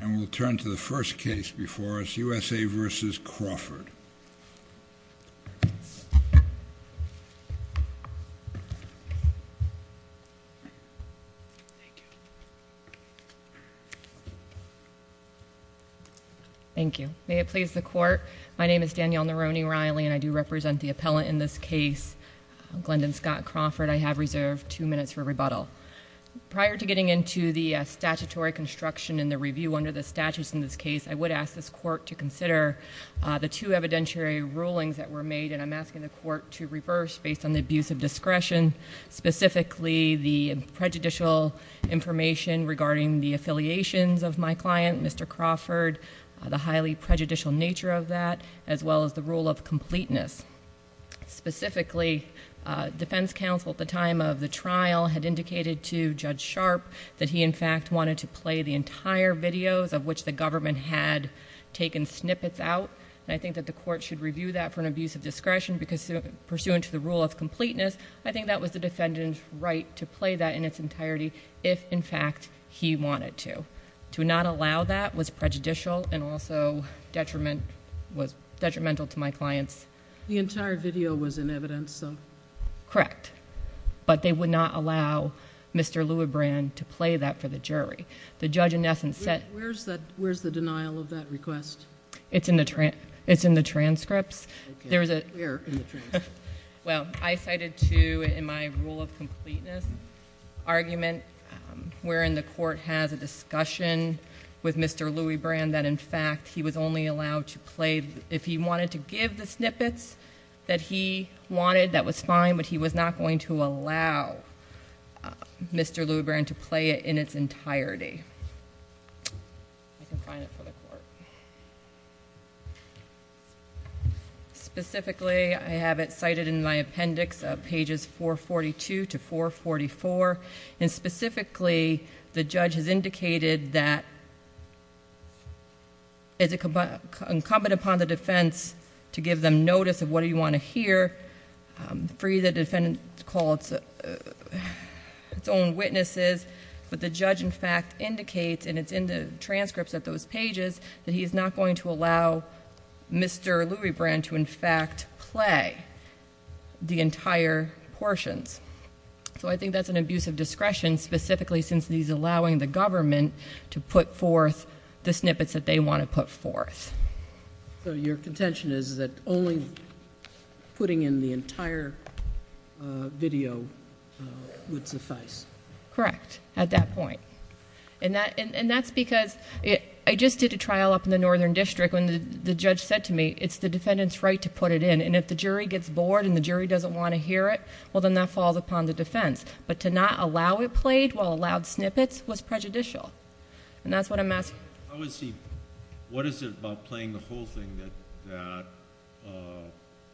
And we'll turn to the first case before us, USA v. Crawford. Thank you. May it please the Court, my name is Danielle Nerone-Riley and I do represent the appellant in this case, Glendon Scott Crawford. I have reserved two minutes for rebuttal. Prior to getting into the statutory construction and the review under the statutes in this case, I would ask this Court to consider the two evidentiary rulings that were made, and I'm asking the Court to reverse based on the abuse of discretion, specifically the prejudicial information regarding the affiliations of my client, Mr. Crawford, the highly prejudicial nature of that, as well as the rule of completeness. Specifically, defense counsel at the time of the trial had indicated to Judge Sharp that he in fact wanted to play the entire videos of which the government had taken snippets out, and I think that the Court should review that for an abuse of discretion because pursuant to the rule of completeness, I think that was the defendant's right to play that in its entirety if in fact he wanted to. To not allow that was prejudicial and also detrimental to my client's... The entire video was in evidence, so... Correct. But they would not allow Mr. Leweybrand to play that for the jury. The judge in essence said... Where's the denial of that request? It's in the transcripts. Okay. Where in the transcripts? Well, I cited to in my rule of completeness argument wherein the Court has a discussion with Mr. Leweybrand that in fact he was only allowed to play... If he wanted to give the snippets that he wanted, that was fine, but he was not going to allow Mr. Leweybrand to play it in its entirety. Specifically, I have it specifically, the judge has indicated that it's incumbent upon the defense to give them notice of what you want to hear, free the defendant to call its own witnesses, but the judge in fact indicates, and it's in the transcripts of those pages, that he's not going to allow Mr. Leweybrand to in fact play the entire portions. So I think that's an abuse of discretion specifically since he's allowing the government to put forth the snippets that they want to put forth. So your contention is that only putting in the entire video would suffice? Correct, at that point. And that's because... I just did a trial up in the Northern District when the judge said to me, it's the defendant's right to put it in, and if the jury gets bored and the jury doesn't want to hear it, well, then that falls upon the defense. But to not allow it played while allowed snippets was prejudicial, and that's what I'm asking. What is it about playing the whole thing that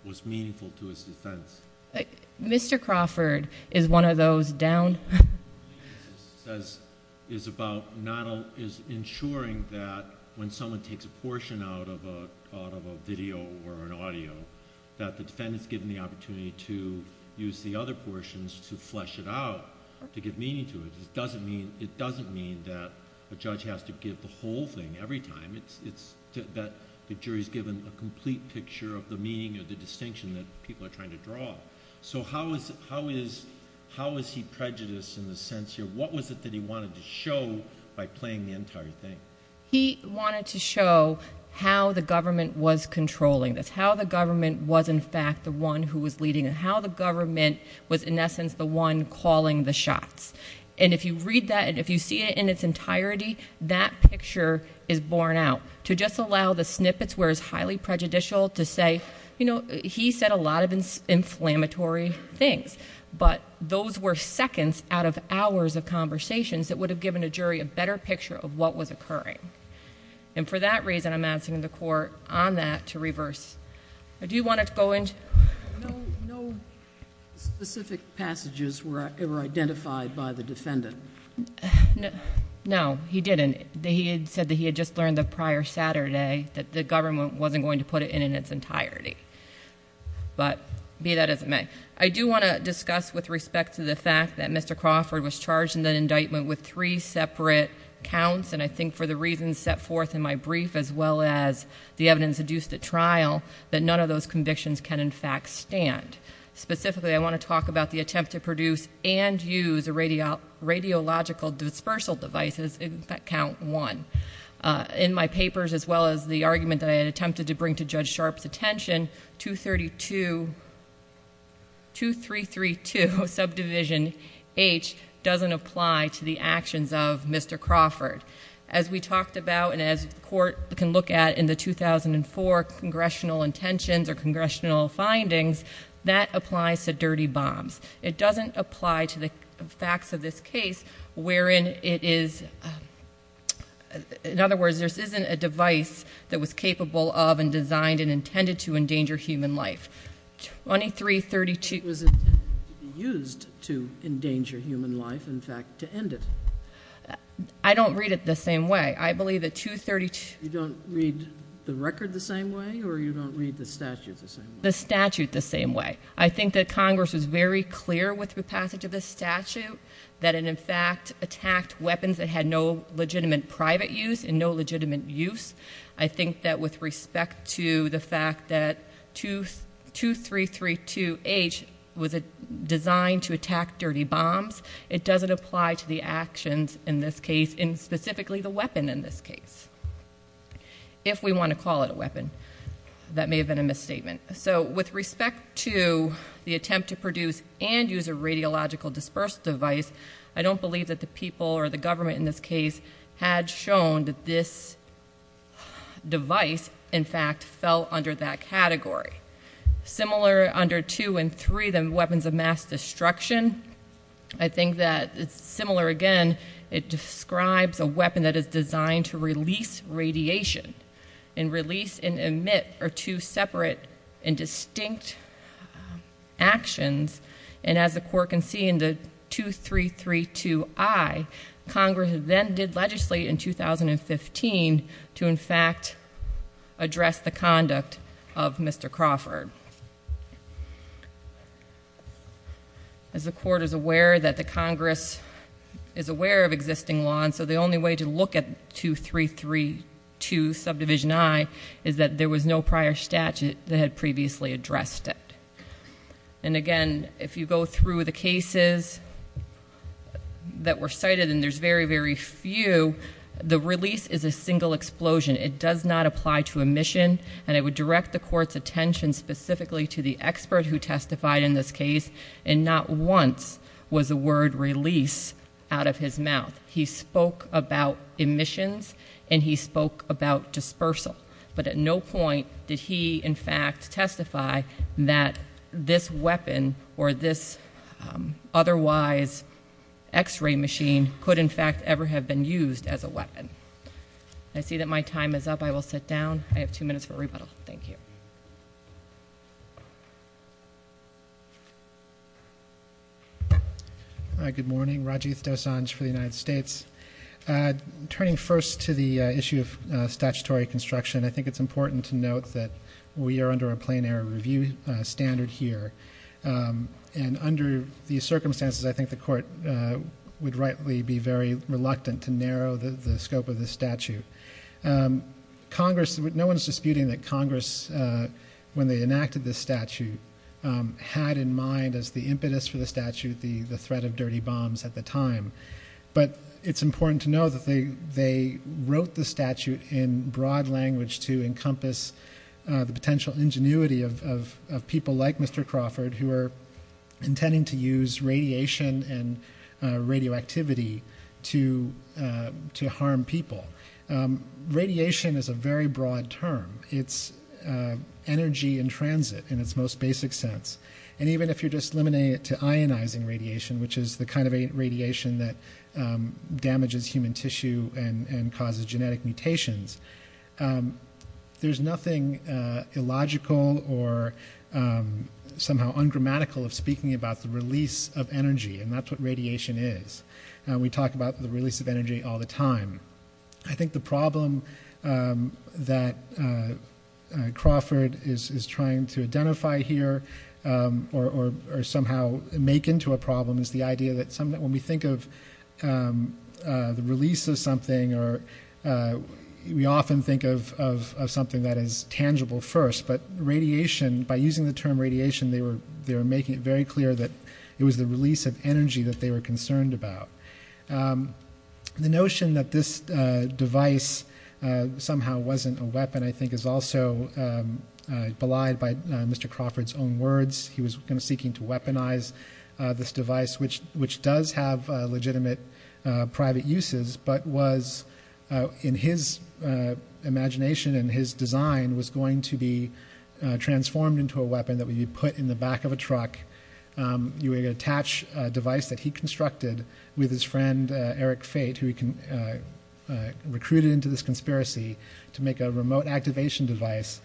was meaningful to his defense? Mr. Crawford is one of those down...... is ensuring that when someone takes a portion out of a video or an audio, that the defendant is given the opportunity to use the other portions to flesh it out, to give meaning to it. It doesn't mean that a judge has to give the whole thing every time. The jury is given a complete picture of the meaning or the distinction that people are trying to draw. So how is he prejudiced in this sense here? What was it that he wanted to show by playing the entire thing? He wanted to show how the government was controlling this, how the government was, in fact, the one who was leading, and how the government was, in essence, the one calling the shots. And if you read that, and if you see it in its entirety, that picture is borne out. To just allow the snippets where it's highly prejudicial to say, you know, he said a lot of inflammatory things, but those were seconds out of hours of conversations that would have given a jury a better picture of what was occurring. And for that reason, I'm asking the Court on that to reverse. No specific passages were identified by the defendant. No, he didn't. He said that he had just learned the prior Saturday that the government wasn't going to put it in its entirety. But, be that as it may, I do want to discuss with respect to the fact that Mr. Crawford was charged in that indictment with three separate counts, and I think for the reasons set forth in my brief, as well as the evidence adduced at trial, that none of those convictions can, in fact, stand. Specifically, I want to talk about the attempt to produce and use radiological dispersal devices in count one. In my papers, as well as the argument that I had attempted to bring to Judge Sharpe's attention, 232, 2332, subdivision H, doesn't apply to the actions of Mr. Crawford. As we talked about, and as the Court can look at in the 2004 Congressional Intentions or Congressional Findings, that applies to dirty bombs. It doesn't apply to the facts of this case wherein it is, in other words, there isn't a device that was capable of and designed and intended to endanger human life. 2332 was intended to be used to endanger human life, in fact, to end it. I don't read it the same way. I believe that 232... You don't read the record the same way, or you don't read the statute the same way? The statute the same way. I think that Congress was very clear with the passage of this statute that it, in fact, attacked weapons that had no legitimate private use and no legitimate use. I think that with respect to the fact that 2332H was designed to attack dirty bombs, it doesn't apply to the actions in this case, and specifically the weapon in this case. If we want to call it a weapon. That may have been a misstatement. With respect to the attempt to produce and use a radiological disperse device, I don't believe that the people or the government in this case had shown that this category. Similar under 2 and 3, the weapons of mass destruction, I think that it's similar again. It describes a weapon that is designed to release radiation, and release and emit are two separate and distinct actions, and as the Court can see in the 2332I, Congress then did legislate in favor of Mr. Crawford. As the Court is aware that the Congress is aware of existing law, and so the only way to look at 2332I is that there was no prior statute that had previously addressed it. And again, if you go through the cases that were cited, and there's very, very few, the release is a single explosion. It does not apply to emission, and it would direct the Court's attention specifically to the expert who testified in this case, and not once was the word release out of his mouth. He spoke about emissions, and he spoke about dispersal, but at no point did he in fact testify that this weapon or this otherwise x-ray machine could in fact ever have been used as a weapon. I see that my time is up. I will sit down. I have two minutes for rebuttal. Thank you. Good morning. Rajiv Dosanjh for the United States. Turning first to the issue of statutory construction, I think it's important to note that we are under a plain air review standard here, and under these circumstances, I think the Court would rightly be very reluctant to narrow the scope of this statute. No one is disputing that Congress, when they enacted this statute, had in mind as the impetus for the statute the threat of dirty bombs at the time, but it's important to know that they wrote the statute in broad language to encompass the potential ingenuity of people like Mr. Crawford who are intending to use radiation and radioactivity to harm people. Radiation is a very broad term. It's energy in transit in its most basic sense, and even if you're just limiting it to ionizing radiation, which is the kind of radiation that damages human tissue and causes genetic mutations, there's nothing illogical or somehow ungrammatical of speaking about the release of energy, and that's what radiation is. We talk about the release of energy all the time. I think the problem that Crawford is trying to identify here or somehow make into a problem is the idea that when we think of the release of something, we often think of something that is tangible first, but radiation, by using the term radiation, they were making it very clear that it was the release of energy that they were concerned about. The notion that this device somehow wasn't a weapon I think is also belied by Mr. Crawford's own words. He was seeking to weaponize this device, which does have legitimate private uses, but was, in his imagination and his design, was going to be transformed into a weapon that would be put in the back of a truck. You would attach a device that he used in this conspiracy to make a remote activation device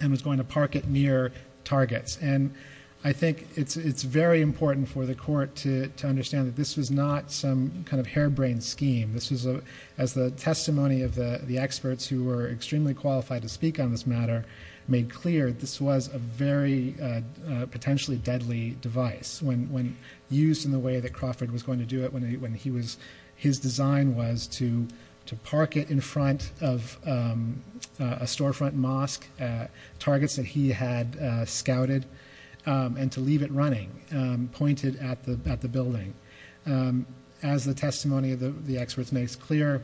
and was going to park it near targets. I think it's very important for the court to understand that this was not some kind of harebrained scheme. This was, as the testimony of the experts who were extremely qualified to speak on this matter made clear, this was a very potentially deadly device when used in the way that it was used in the front of a storefront mosque, targets that he had scouted, and to leave it running, pointed at the building. As the testimony of the experts makes clear,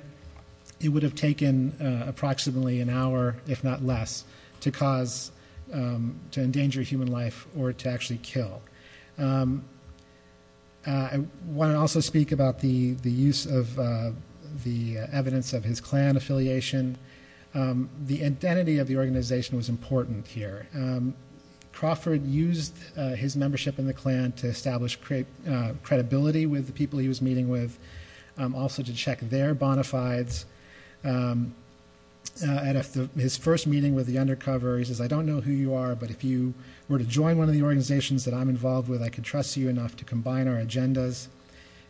it would have taken approximately an hour, if not less, to cause, to endanger human life or to actually kill. I want to also speak about the use of the evidence of his Klan affiliation. The identity of the organization was important here. Crawford used his membership in the Klan to establish credibility with the people he was meeting with, also to check their bona fides. At his first meeting with the undercover, he says, I don't know who you are, but if you were to join one of the organizations that I'm involved with, I could trust you enough to combine our agendas.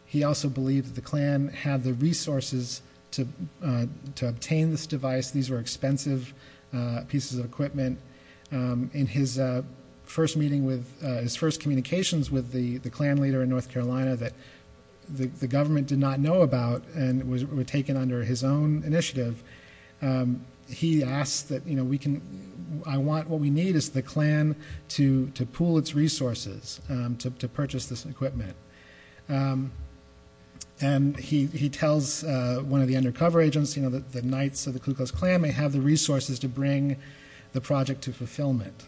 He also believed that the Klan had the resources to obtain this device. These were expensive pieces of equipment. In his first meeting with, his first communications with the Klan leader in North Carolina that the government did not know about and were taken under his own initiative, he asked that we can, I want, what we need is the Klan to pool its resources to purchase this equipment. He tells one of the undercover agents that the Knights of the Ku Klux Klan may have the resources to bring the project to fulfillment.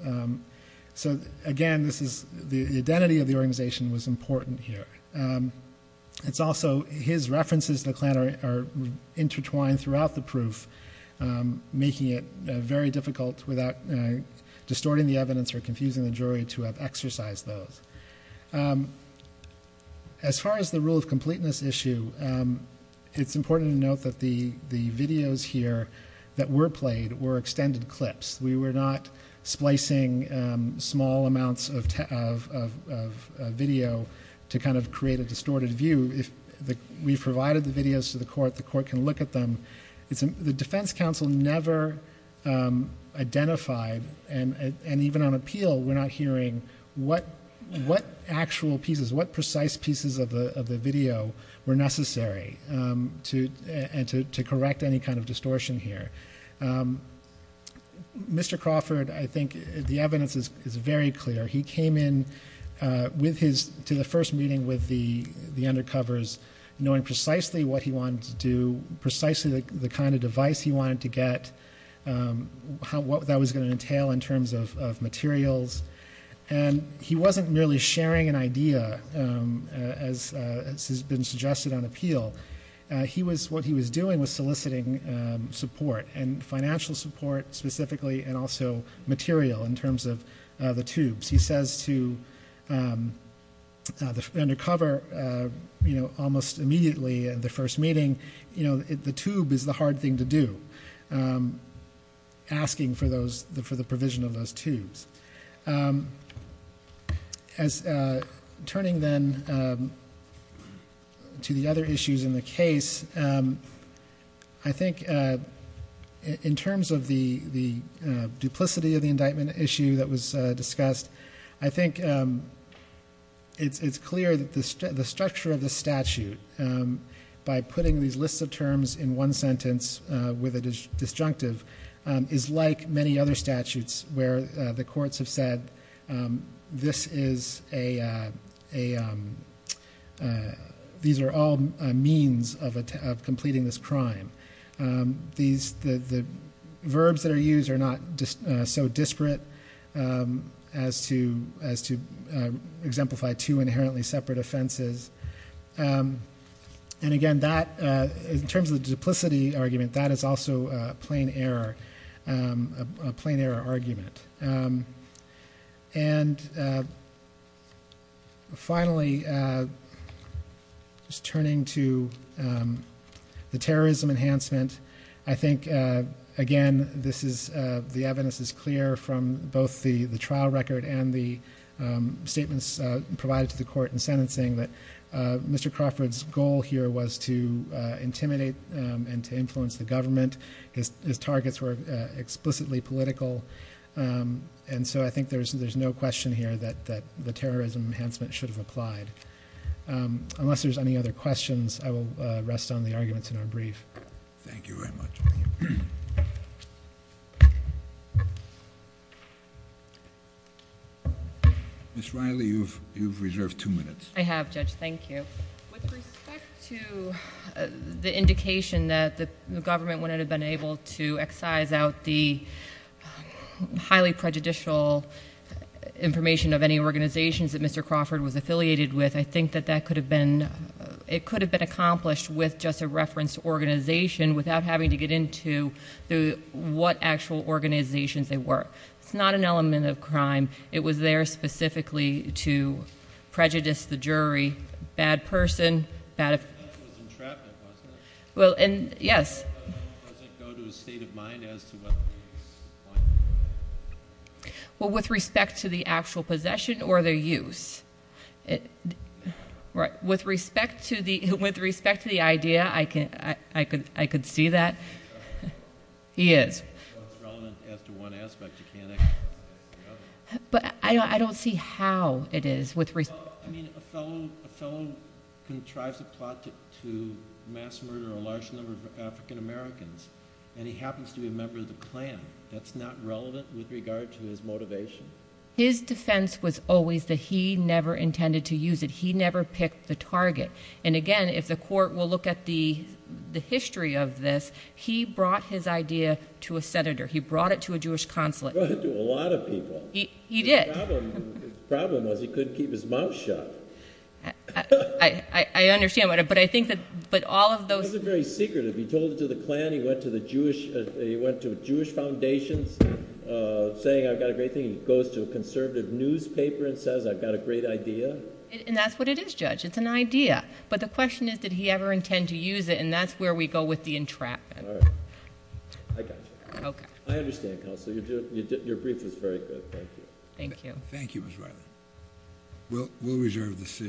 Again, this is, the identity of the organization was important here. It's also, his references to the Klan are intertwined throughout the proof, making it very difficult without distorting the evidence or confusing the jury to have exercised those. As far as the rule of completeness issue, it's important to note that the videos here that were played were extended clips. We were not splicing small amounts of video to create a distorted view. If we provided the videos to the court, the court can look at them. The defense counsel never identified, and even on appeal, we're not hearing what actual pieces, what precise pieces of the video were necessary to correct any kind of distortion here. Mr. Crawford, I think the evidence is very clear. He came in to the first meeting with the undercovers knowing precisely what he wanted to do, precisely the kind of device he wanted to get, what that was going to entail in terms of materials. He wasn't merely sharing an idea, as has been suggested on appeal. What he was doing was soliciting support, and financial support specifically, and also material in terms of the tubes. He says to the undercover almost immediately at the first meeting, the tube is the hard thing to do, asking for the provision of those tubes. Turning then to the other issues in the case, I think in terms of the duplicity of the indictment issue that was discussed, I think it's clear that the structure of the statute, by putting these lists of terms in one sentence with a disjunctive, is like many other statutes where the courts have said, these are all means of completing this crime. The verbs that are used are not so disparate as to and again, in terms of the duplicity argument, that is also a plain error argument. Finally, turning to the terrorism enhancement, I think again, the evidence is clear from both the trial record and the indictment, that the goal here was to intimidate and to influence the government. His targets were explicitly political. I think there's no question here that the terrorism enhancement should have applied. Unless there's any other questions, I will rest on the arguments in our brief. Thank you very much. Ms. Riley, you've reserved two minutes. I have, Judge. Thank you. With respect to the indication that the government wouldn't have been able to excise out the highly prejudicial information of any organizations that Mr. Crawford was affiliated with, I think that could have been accomplished with just a reference to organization without having to get into what actual organizations they were. It's not an element of crime. It was there specifically to prejudice the jury. Bad person. With respect to the actual possession or their use. With respect to the idea, I could see that. He is. It's relevant as to one aspect. I don't see how it is. A fellow contrives a plot to mass murder a large number of African Americans. He happens to be a member of the Klan. That's not relevant with regard to his motivation. His defense was always that he never intended to use it. He never picked the target. Again, if the court will look at the history of this, he brought his idea to a senator. He brought it to a Jewish consulate. He brought it to a lot of people. His problem was he couldn't keep his mouth shut. I understand. He told it to the Klan. He went to Jewish foundations saying I've got a great thing. The question is did he ever intend to use it. That's where we go with the entrapment. I understand. Your brief was very good. Thank you.